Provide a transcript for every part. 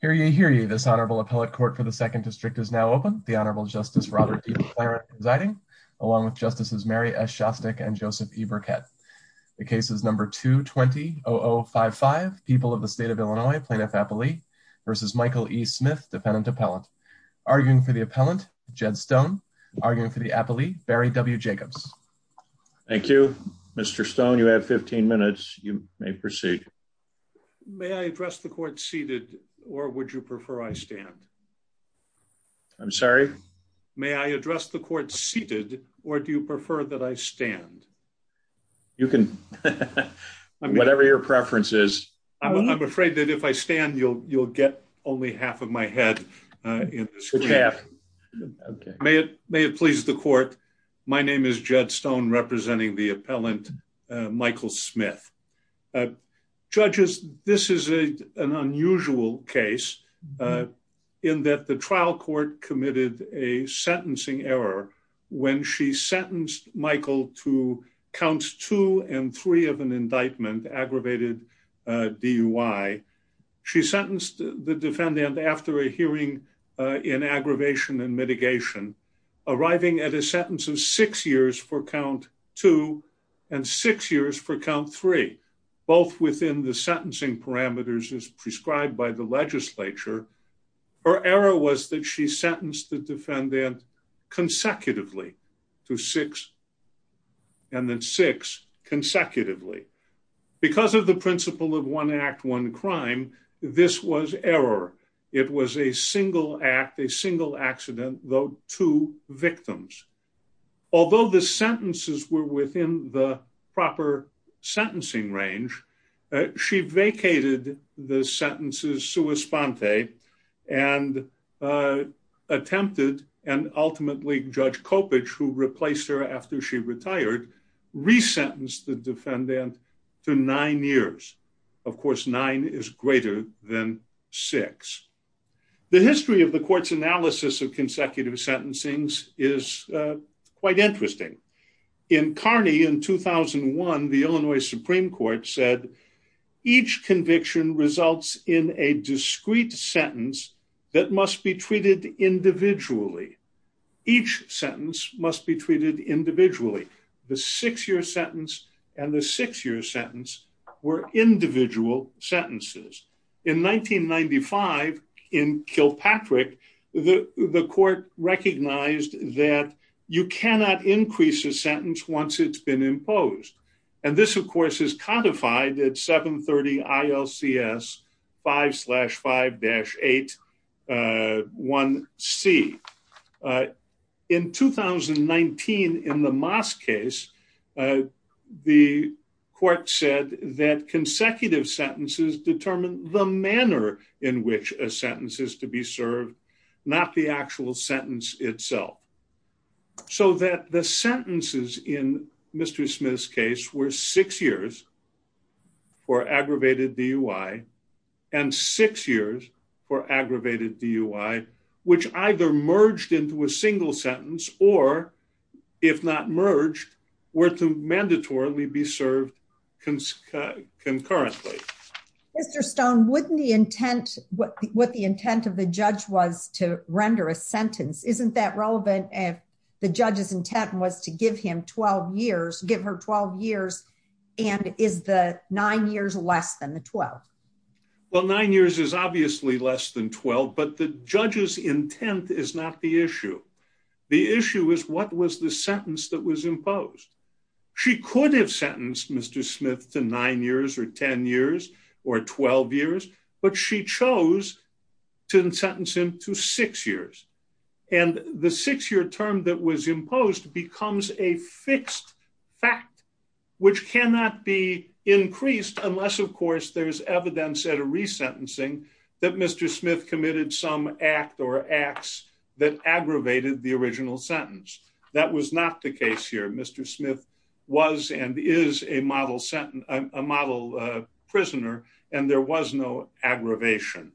here. You hear you. This honorable appellate court for the Second District is now open. The Honorable Justice Robert D. McLaren presiding, along with Justices Mary S. Shostak and Joseph E. Burkett. The case is number 220-055, People of the State of Illinois, Plaintiff Appellee versus Michael E. Smith, Defendant Appellant. Arguing for the appellant, Jed Stone. Arguing for the appellee, Barry W. Jacobs. Thank you, Mr. Stone. You have 15 minutes. You may proceed. May I address the court seated, or would you prefer I stand? I'm sorry? May I address the court seated, or do you prefer that I stand? You can. Whatever your preference is. I'm afraid that if I stand, you'll get only half of my head in the screen. May it please the court. My name is Jed Stone, representing the appellant, Michael Smith. Judges, this is an unusual case in that the trial court committed a sentencing error when she sentenced Michael to counts two and three of an indictment, aggravated DUI. She sentenced the defendant after a hearing in aggravation and mitigation, arriving at a for count three, both within the sentencing parameters as prescribed by the legislature. Her error was that she sentenced the defendant consecutively to six and then six consecutively. Because of the principle of one act, one crime, this was error. It was a single act, a single sentencing range. She vacated the sentences sua sponte and attempted, and ultimately, Judge Coppedge, who replaced her after she retired, resentenced the defendant to nine years. Of course, nine is greater than six. The history of the court's analysis of consecutive sentencings is quite interesting. In Carney in 2001, the Illinois Supreme Court said, each conviction results in a discrete sentence that must be treated individually. Each sentence must be treated individually. The six year sentence and the six year sentence were individual sentences. In 1995, in Kilpatrick, the court recognized that you cannot increase a sentence once it's been imposed. This, of course, is codified at 730 ILCS 5-5-8-1C. In 2019, in the the manner in which a sentence is to be served, not the actual sentence itself. So that the sentences in Mr. Smith's case were six years for aggravated DUI and six years for aggravated DUI, which either merged into a single sentence or, if not merged, were to mandatorily be served concurrently. Mr. Stone, wouldn't the intent, what the intent of the judge was to render a sentence, isn't that relevant if the judge's intent was to give him 12 years, give her 12 years, and is the nine years less than the 12? Well, nine years is obviously less than 12, but the judge's intent is not the issue. The issue is what was the sentence that was imposed. She could have sentenced Mr. Smith to nine years or 10 years or 12 years, but she chose to sentence him to six years. And the six-year term that was imposed becomes a fixed fact, which cannot be increased unless, of course, there's evidence at a resentencing that Mr. Smith committed some act or acts that aggravated the original sentence. That was not the case here. Mr. Smith was and is a model prisoner, and there was no aggravation.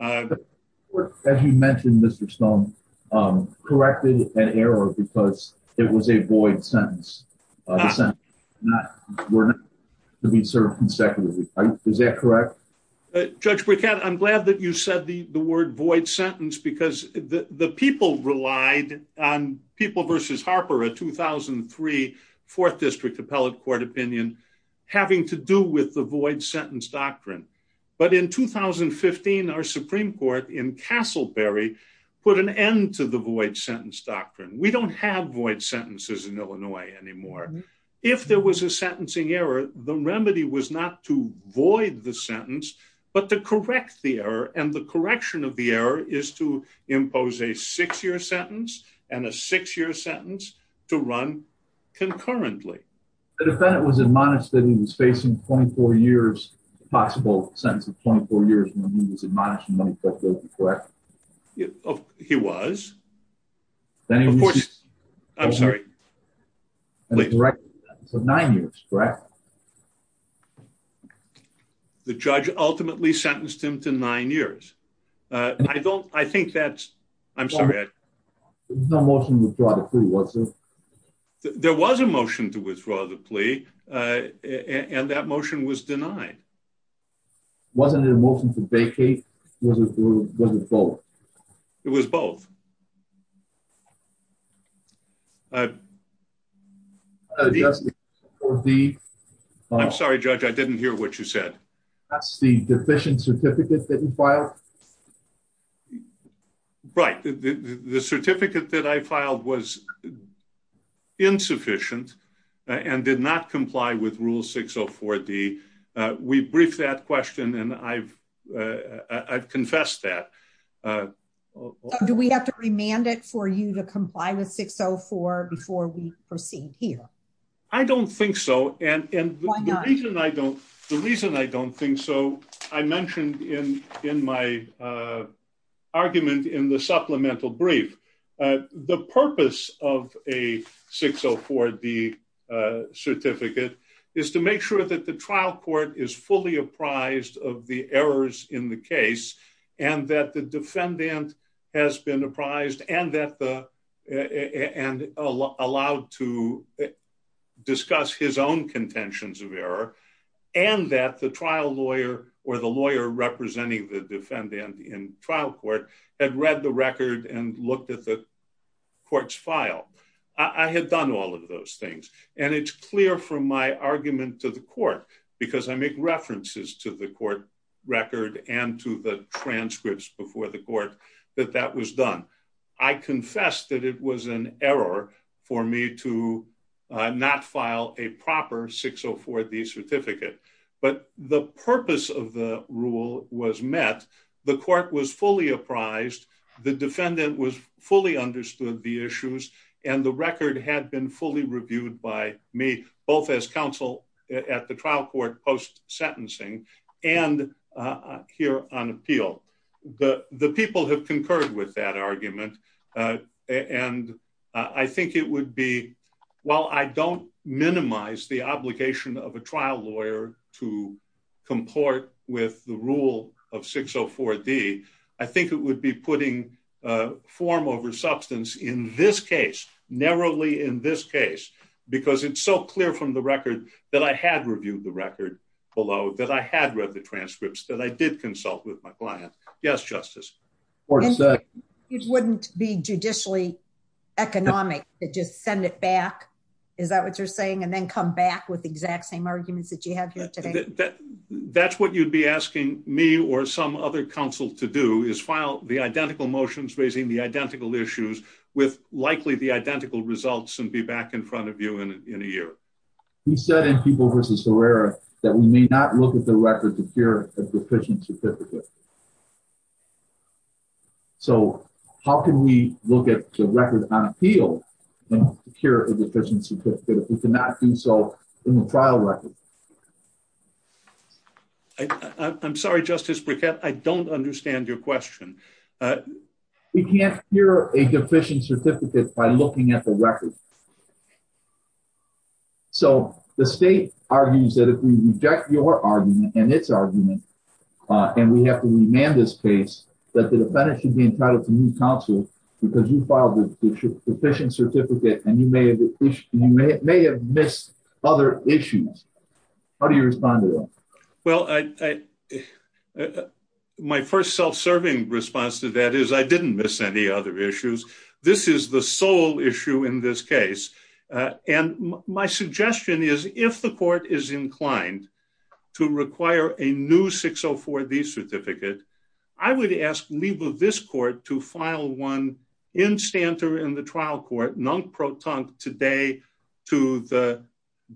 As you mentioned, Mr. Stone, corrected an error because it was a void sentence. The sentence were not to be served consecutively, right? Is that correct? Judge Briquette, I'm glad that you said the word void sentence because the people relied on People v. Harper, a 2003 Fourth District Appellate Court opinion, having to do with the void sentence doctrine. But in 2015, our Supreme Court in Castleberry put an end to the void sentence doctrine. We don't have void sentences in Illinois anymore. If there was a sentencing error, the remedy was not to void the sentence, but to correct the error, and the six-year sentence to run concurrently. The defendant was admonished that he was facing 24 years, a possible sentence of 24 years when he was admonished in 1948, correct? He was. Of course, I'm sorry. Nine years, correct? The judge ultimately sentenced him to nine years. I think that's, I'm sorry. There was no motion to withdraw the plea, was there? There was a motion to withdraw the plea, and that motion was denied. Wasn't it a motion to vacate? Was it both? It was both. I'm sorry, Judge, I didn't hear what you said. That's the deficient certificate that you filed? The certificate that I filed was insufficient and did not comply with Rule 604D. We briefed that question, and I've confessed that. Do we have to remand it for you to comply with 604 before we proceed here? I don't think so. The reason I don't think so, I mentioned in my argument in the supplemental brief, the purpose of a 604D certificate is to make sure that the trial court is fully apprised of the errors in the case, and that the defendant has been apprised and allowed to discuss his own contentions of error, and that the trial lawyer or the lawyer representing the defendant in trial court had read the record and looked at the court's file. I had done all of those things, and it's clear from my argument to the court, because I make references to the court record and to the transcripts before the court, that that was done. I confess that it was an error for me to not file a proper 604D certificate, but the purpose of the rule was met. The court was fully apprised, the defendant fully understood the issues, and the record had been fully reviewed by me, both as counsel at the trial court post-sentencing and here on appeal. The people have concurred with that argument, and I think it would be, while I don't minimize the obligation of a trial lawyer to comport with the rule of 604D, I think it would be putting form over substance in this case, narrowly in this case, because it's so clear from the record that I had reviewed the record below, that I had read the transcripts, that I did consult with my client. Yes, Justice. It wouldn't be judicially economic to just send it back? Is that what you're saying? And then come back with the exact same arguments that you have here today? That's what you'd be asking me or some other counsel to do, is file the identical motions raising the identical issues with likely the identical results and be back in front of you in a year. We said in People v. Herrera that we may not look at the record to secure a deficient certificate. So how can we look at the record on appeal and secure a deficient certificate if we cannot do so in the trial record? I'm sorry, Justice Briquette, I don't understand your question. We can't secure a deficient certificate by looking at the record. So the state argues that if we reject your argument and its argument, and we have to remand this case, that the defendant should be entitled to new counsel because you filed a deficient certificate and you may have missed other issues. How do you respond to that? Well, my first self-serving response to that is I didn't miss any other issues. This is the sole issue in this case. And my suggestion is if the court is inclined to require a new 604D certificate, I would ask leave of this court to file one in Stanter in the trial court, non-proton today to the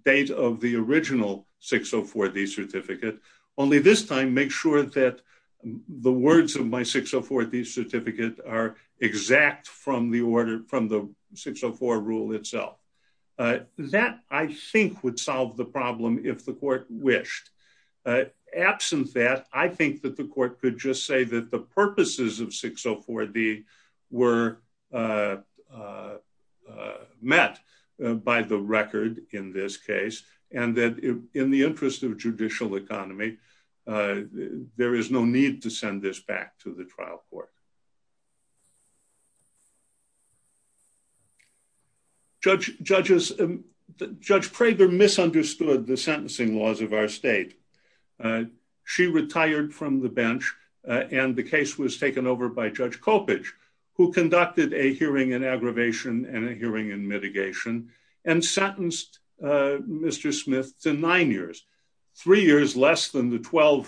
date of the original 604D certificate. Only this time, make sure that the words of my 604D certificate are exact from the order from the 604 rule itself. That I think would solve the problem if the court wished. Absent that, I think that the court could just say that the purposes of 604D were by the record in this case, and that in the interest of judicial economy, there is no need to send this back to the trial court. Judge Prager misunderstood the sentencing laws of our state. She retired from the bench and the case was taken over by Judge Coppedge, who conducted a hearing in aggravation and a hearing in mitigation, and sentenced Mr. Smith to nine years. Three years less than the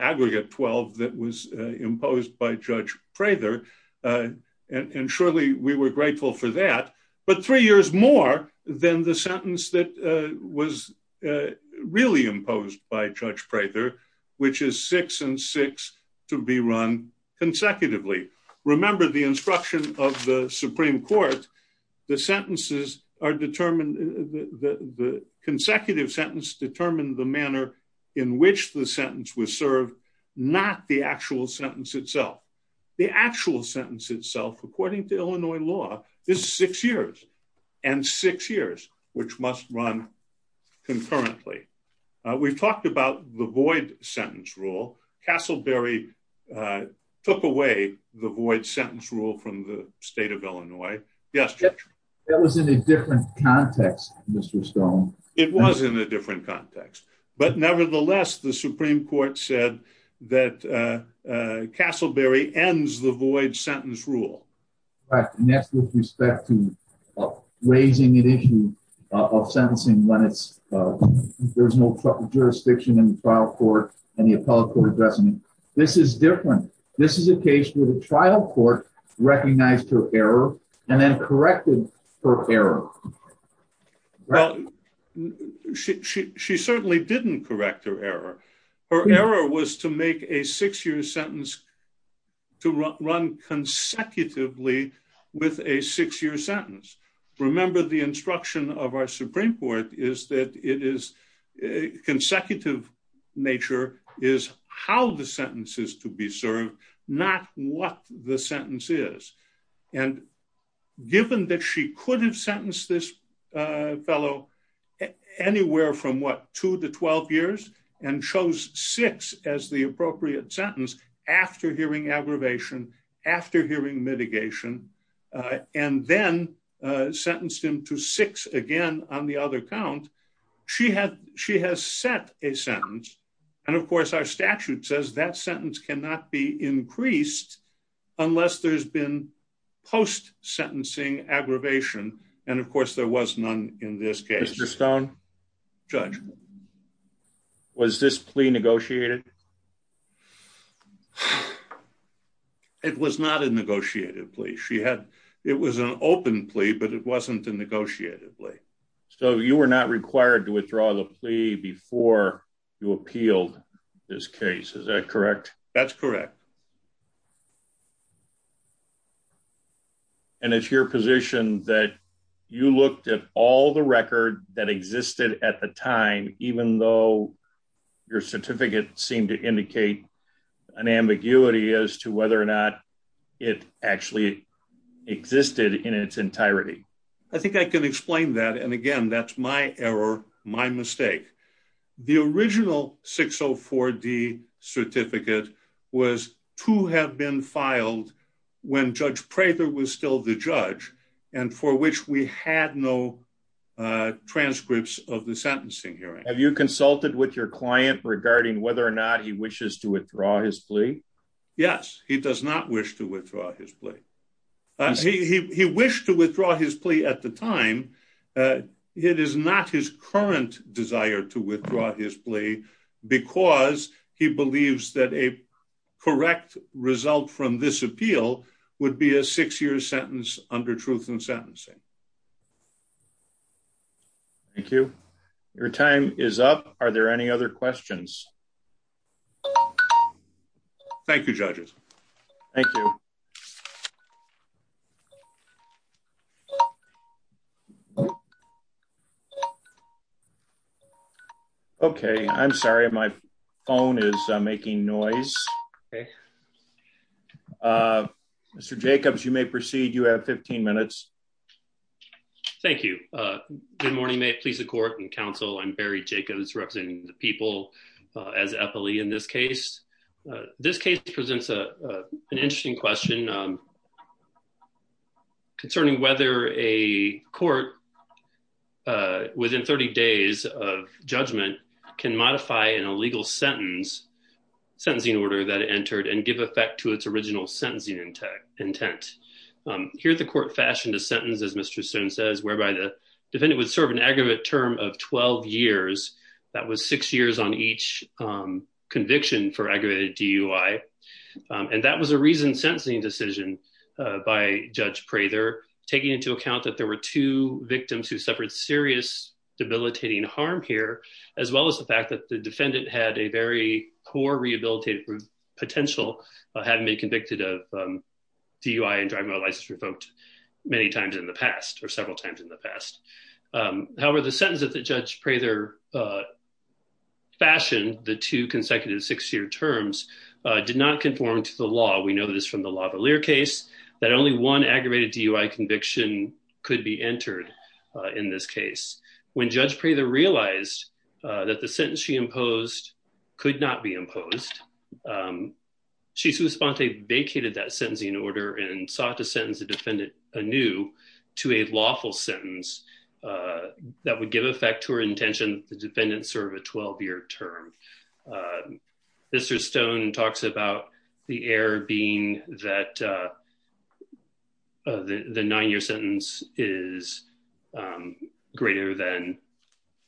aggregate 12 that was imposed by Judge Prager. And surely we were grateful for that. But three years more than the sentence that was really imposed by Judge Prager, which is six and six to be run consecutively. Remember the instruction of the Supreme Court, the sentences are determined, the consecutive sentence determined the manner in which the sentence was served, not the actual sentence itself. The actual sentence itself, according to Illinois law, is six years. And six years, which must run concurrently. We've talked about the void sentence rule. Castleberry took away the void sentence rule from the state of Illinois yesterday. That was in a different context, Mr. Stone. It was in a different context. But nevertheless, the Supreme Court said that Castleberry ends the void sentence rule. Next, with respect to raising an issue of sentencing when it's, there's no jurisdiction in the trial court and the appellate court addressing it. This is different. This is a case where the trial court recognized her error and then corrected her error. Her error was to make a six year sentence to run consecutively with a six year sentence. Remember, the instruction of our Supreme Court is that it is a consecutive nature is how the sentences to be served, not what the sentence is. And given that she could have sentenced this fellow anywhere from what two to 12 years, and chose six as the appropriate sentence after hearing aggravation, after hearing mitigation, and then sentenced him to six again on the other count, she has set a sentence. And of course, our statute says that sentence cannot be increased unless there's been post sentencing aggravation. And of course, there was none in this case. Mr. Stone. Judge. Was this plea negotiated? It was not a negotiated plea. She had, it was an open plea, but it wasn't a negotiated plea. So you were not required to withdraw the plea before you appealed this case. Is that correct? That's correct. And it's your position that you looked at all the record that existed at the time, even though your certificate seemed to indicate an ambiguity as to whether or not it actually existed in its entirety. I think I can explain that. And again, that's my error, my mistake. The original 604 D certificate was to have been filed when Judge Prather was still the judge, and for which we had no transcripts of the sentencing hearing. Have you consulted with your client regarding whether or not he wishes to withdraw his plea? Yes, he does not wish to withdraw his plea. He wished to withdraw his plea at the time. It is not his current desire to withdraw his plea because he believes that a correct result from this appeal would be a six year sentence under truth and sentencing. Thank you. Your time is up. Are there any other questions? Thank you, judges. Thank you. Okay, I'm sorry. My phone is making noise. Mr. Jacobs, you may proceed. You have 15 minutes. Thank you. Good morning. May it please the court and counsel. I'm Barry Jacobs representing the people as Eppley in this case. This case presents an interesting question concerning whether a court within 30 days of judgment can modify an illegal sentence, sentencing order that entered and give effect to its original sentencing intent. Here, the court fashioned a sentence, as Mr. Soon says, whereby the defendant would serve an aggregate term of 12 years. That was six years on each conviction for aggravated DUI. And that was a reason sentencing decision by Judge Prather, taking into account that there were two victims who suffered serious debilitating harm here, as well as the fact that the defendant had a very poor rehabilitative potential of having been convicted of DUI and driving a license revoked many times in the past, or several times in the past. However, the sentence that the Judge Prather fashioned, the two consecutive six-year terms, did not conform to the law. We know this from the Lavalier case, that only one aggravated DUI conviction could be entered in this case. When Judge Prather realized that the sentence she imposed could not be imposed, she suspended, vacated that sentencing order and sought to sentence the defendant anew to a lawful sentence that would give effect to her intention that the defendant serve a 12-year term. Mr. Stone talks about the error being that the nine-year sentence is greater than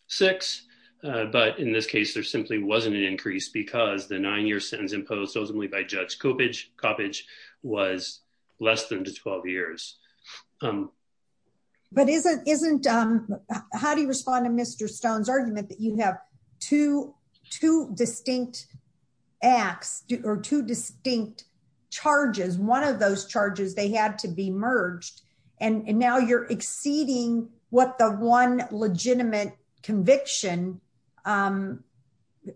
six. But in this case, there simply wasn't an increase because the nine-year sentence imposed by Judge Coppedge was less than 12 years. How do you respond to Mr. Stone's argument that you have two distinct acts, or two distinct charges, one of those charges, they had to be merged, and now you're exceeding what the legitimate conviction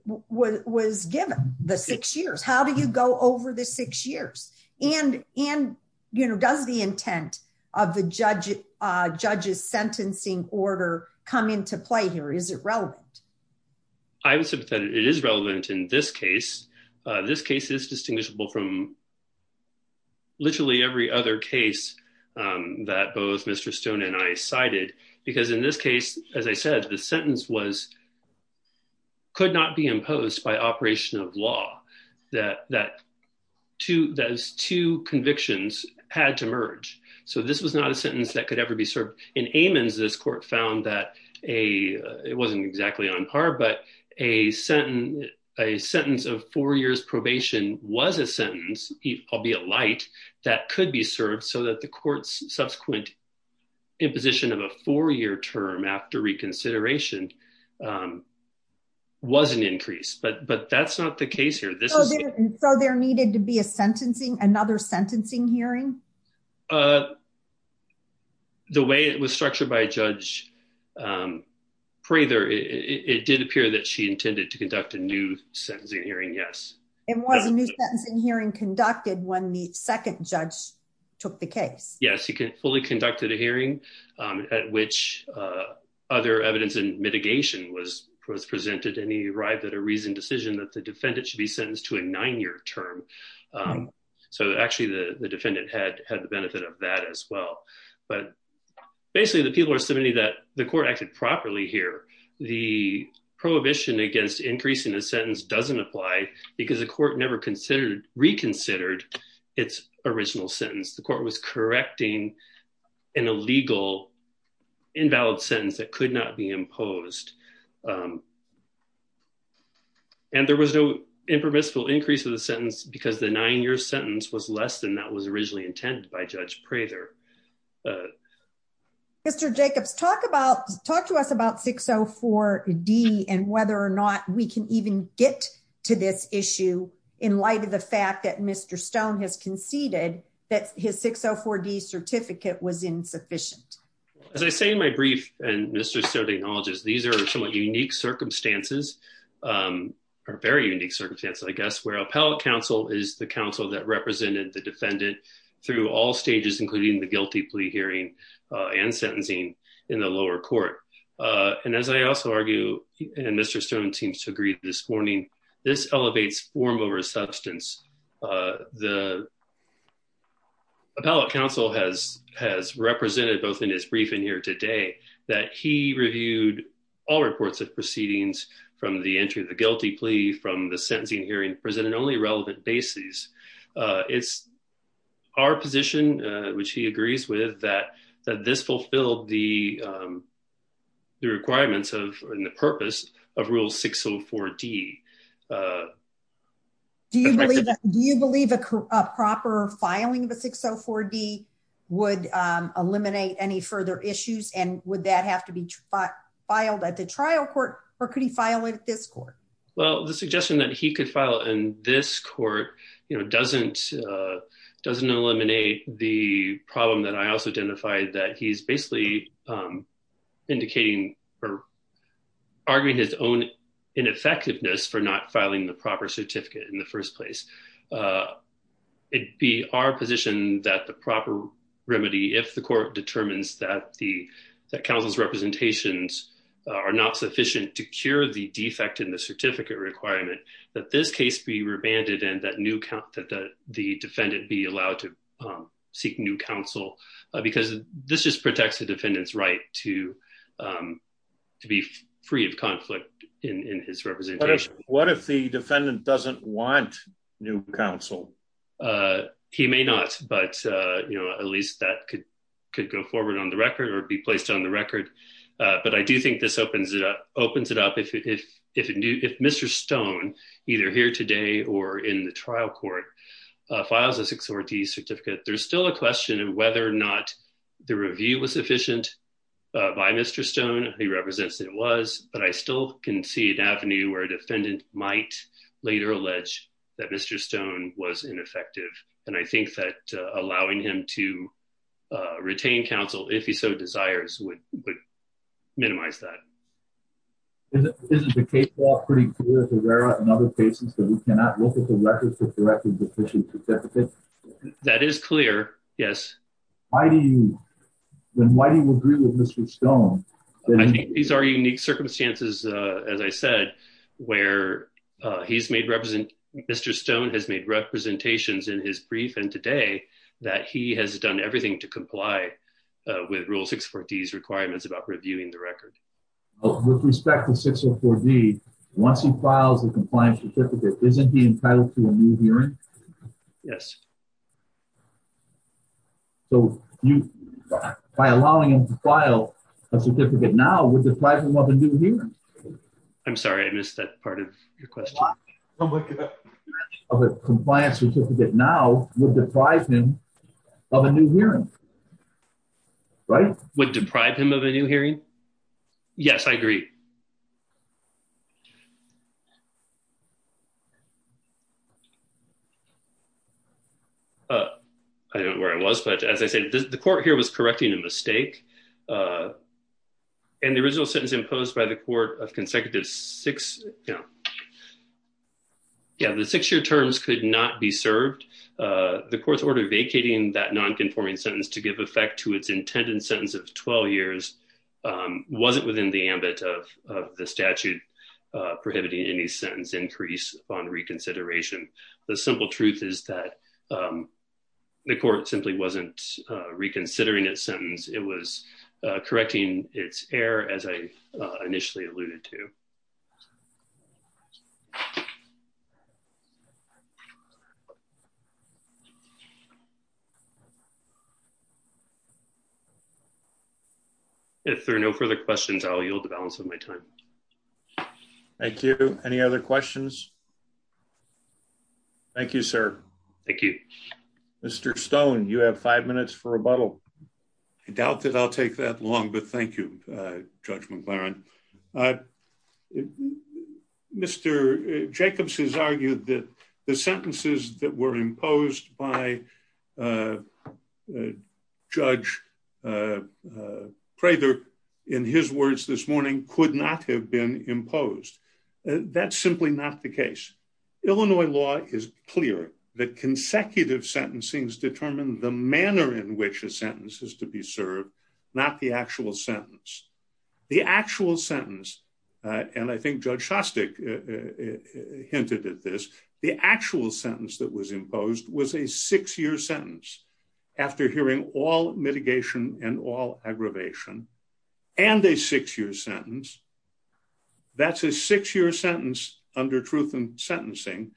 was given, the six years. How do you go over the six years? And does the intent of the judge's sentencing order come into play here? Is it relevant? I would say that it is relevant in this case. This case is distinguishable from literally every other case that both Mr. Stone and I cited, because in this case, as I said, the sentence could not be imposed by operation of law, that those two convictions had to merge. So this was not a sentence that could ever be served. In Amons, this court found that, it wasn't exactly on par, but a sentence of four years probation was a sentence, albeit light, that could be served so that the court's subsequent imposition of a four-year term after reconsideration was an increase, but that's not the case here. So there needed to be another sentencing hearing? The way it was structured by Judge Prather, it did appear that she intended to conduct a new sentencing hearing, yes. It was a new sentencing hearing conducted when the second judge took the case. Yes, he fully conducted a hearing at which other evidence and mitigation was presented, and he arrived at a reasoned decision that the defendant should be sentenced to a nine-year term. So actually, the defendant had the benefit of that as well. But basically, the people are submitting that the court acted properly here. The prohibition against increasing the sentence doesn't apply because the court never reconsidered its original sentence. The court was correcting an illegal, invalid sentence that could not be imposed. And there was no impermissible increase of the sentence because the nine-year sentence was less than that was originally intended by Judge Prather. Mr. Jacobs, talk to us about 604D and whether or not we can even get to this issue in light of the fact that Mr. Stone has conceded that his 604D certificate was insufficient. As I say in my brief, and Mr. Stone acknowledges, these are somewhat unique circumstances, or very unique circumstances, I guess, where appellate counsel is the counsel that represented the defendant through all stages, including the guilty plea hearing and sentencing in the lower court. And as I also argue, and Mr. Stone seems to agree this morning, this elevates form over substance. The appellate counsel has represented both in his briefing here today that he reviewed all reports of proceedings from the entry of the guilty plea, from the sentencing hearing, presented only relevant bases. It's our position, which he agrees with, that this fulfilled the requirements and the purpose of Rule 604D. Do you believe a proper filing of a 604D would eliminate any further issues? And would that have to be filed at the trial court? Or could he file it at this court? Well, the suggestion that he could file in this court doesn't eliminate the problem that I also identified, that he's basically indicating or arguing his own ineffectiveness for not filing in this case. It would be our position that the proper remedy, if the court determines that counsel's representations are not sufficient to cure the defect in the certificate requirement, that this case be remanded and that the defendant be allowed to seek new counsel. Because this just protects the defendant's right to be free of conflict in his representation. What if the defendant doesn't want new counsel? He may not, but at least that could go forward on the record or be placed on the record. But I do think this opens it up if Mr. Stone, either here today or in the trial court, files a 604D certificate. There's still a question of whether or not the review was efficient by Mr. Stone. He represents that it was. But I still can see an avenue where a defendant might later allege that Mr. Stone was ineffective. And I think that allowing him to retain counsel, if he so desires, would minimize that. Isn't the case law pretty clear, Herrera, in other cases that we cannot look at the records to correct the deficient certificate? That is clear, yes. Then why do you agree with Mr. Stone? I think these are unique circumstances, as I said, where Mr. Stone has made representations in his brief and today that he has done everything to comply with Rule 604D's requirements about reviewing the record. With respect to 604D, once he files a compliance certificate, isn't he entitled to a new hearing? Yes. So you, by allowing him to file a certificate now, would deprive him of a new hearing? I'm sorry, I missed that part of your question. I'm looking at it. Of a compliance certificate now, would deprive him of a new hearing, right? Would deprive him of a new hearing? Yes, I agree. I don't know where I was, but as I said, the court here was correcting a mistake. And the original sentence imposed by the court of consecutive six, yeah, the six-year terms could not be served. The court's order vacating that nonconforming sentence to give effect to its intended sentence of 12 years wasn't within the ambit of the statute. Of the statute prohibiting any sentence increase upon reconsideration. The simple truth is that the court simply wasn't reconsidering its sentence. It was correcting its error, as I initially alluded to. If there are no further questions, I'll yield the balance of my time. Thank you. Any other questions? Thank you, sir. Thank you. Mr. Stone, you have five minutes for rebuttal. I doubt that I'll take that long, but thank you, Judge McLaren. I, Mr. Jacobs has argued that the sentences that were imposed by Judge Prather, in his words this morning, could not have been imposed. That's simply not the case. Illinois law is clear that consecutive sentencings determine the manner in which a sentence is to be served, not the actual sentence. The actual sentence, and I think Judge Shostak hinted at this, the actual sentence that was imposed was a six-year sentence after hearing all mitigation and all aggravation, and a six-year sentence. That's a six-year sentence under truth in sentencing,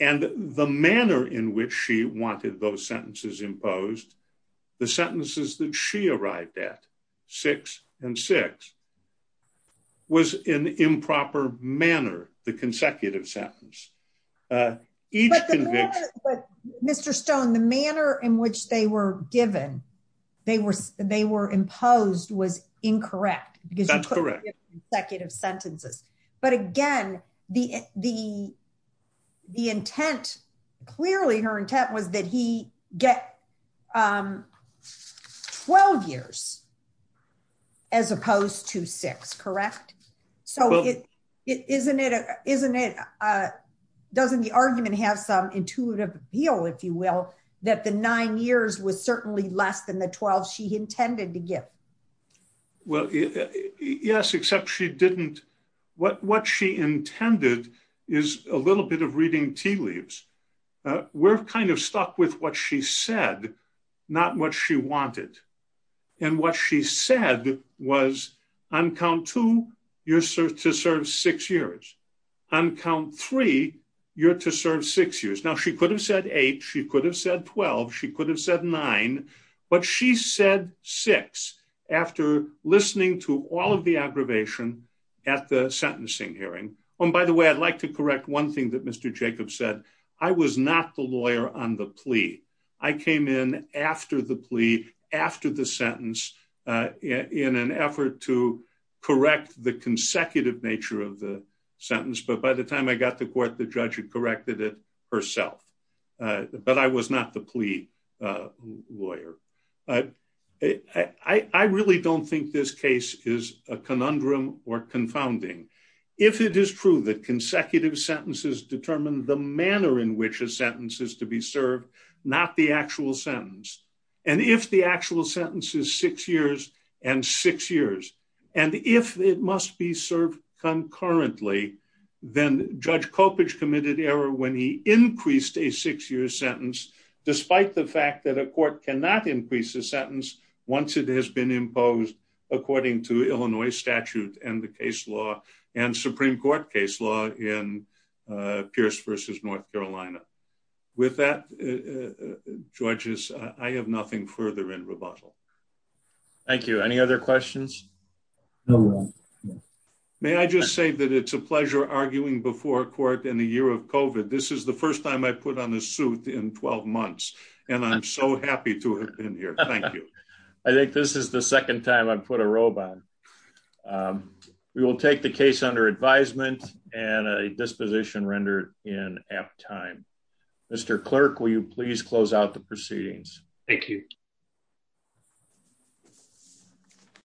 and the manner in which she wanted those sentences imposed, the sentences that she arrived at, six and six, was in improper manner, the consecutive sentence. Mr. Stone, the manner in which they were given, they were imposed was incorrect. That's correct. Because you put them in consecutive sentences. But again, the intent, clearly her intent was that he get 12 years as opposed to six, correct? So, doesn't the argument have some intuitive appeal, if you will, that the nine years was certainly less than the 12 she intended to give? Well, yes, except she didn't, what she intended is a little bit of reading tea leaves. We're kind of stuck with what she said, not what she wanted. And what she said was, on count two, you're to serve six years. On count three, you're to serve six years. Now, she could have said eight, she could have said 12, she could have said nine, but she said six, after listening to all of the aggravation at the sentencing hearing. And by the way, I'd like to correct one thing that Mr. Jacobs said, I was not the lawyer on the plea. I came in after the plea, after the sentence, in an effort to correct the consecutive nature of the sentence. But by the time I got to court, the judge had corrected it herself. But I was not the plea lawyer. I really don't think this case is a conundrum or confounding. If it is true that consecutive sentences determine the manner in which a sentence is to be served, not the actual sentence, and if the actual sentence is six years and six years, and if it must be served concurrently, then Judge Coppedge committed error when he increased a six-year sentence, despite the fact that a court cannot increase a sentence once it has been imposed according to Illinois statute and the case law and Supreme Court case law in Pierce v. North Carolina. With that, judges, I have nothing further in rebuttal. Thank you. Any other questions? No. May I just say that it's a pleasure arguing before court in the year of COVID. This is the first time I've put on a suit in 12 months, and I'm so happy to have been here. Thank you. I think this is the second time I've put a robe on. We will take the case under advisement and a disposition rendered in apt time. Mr. Clerk, will you please close out the proceedings? Thank you.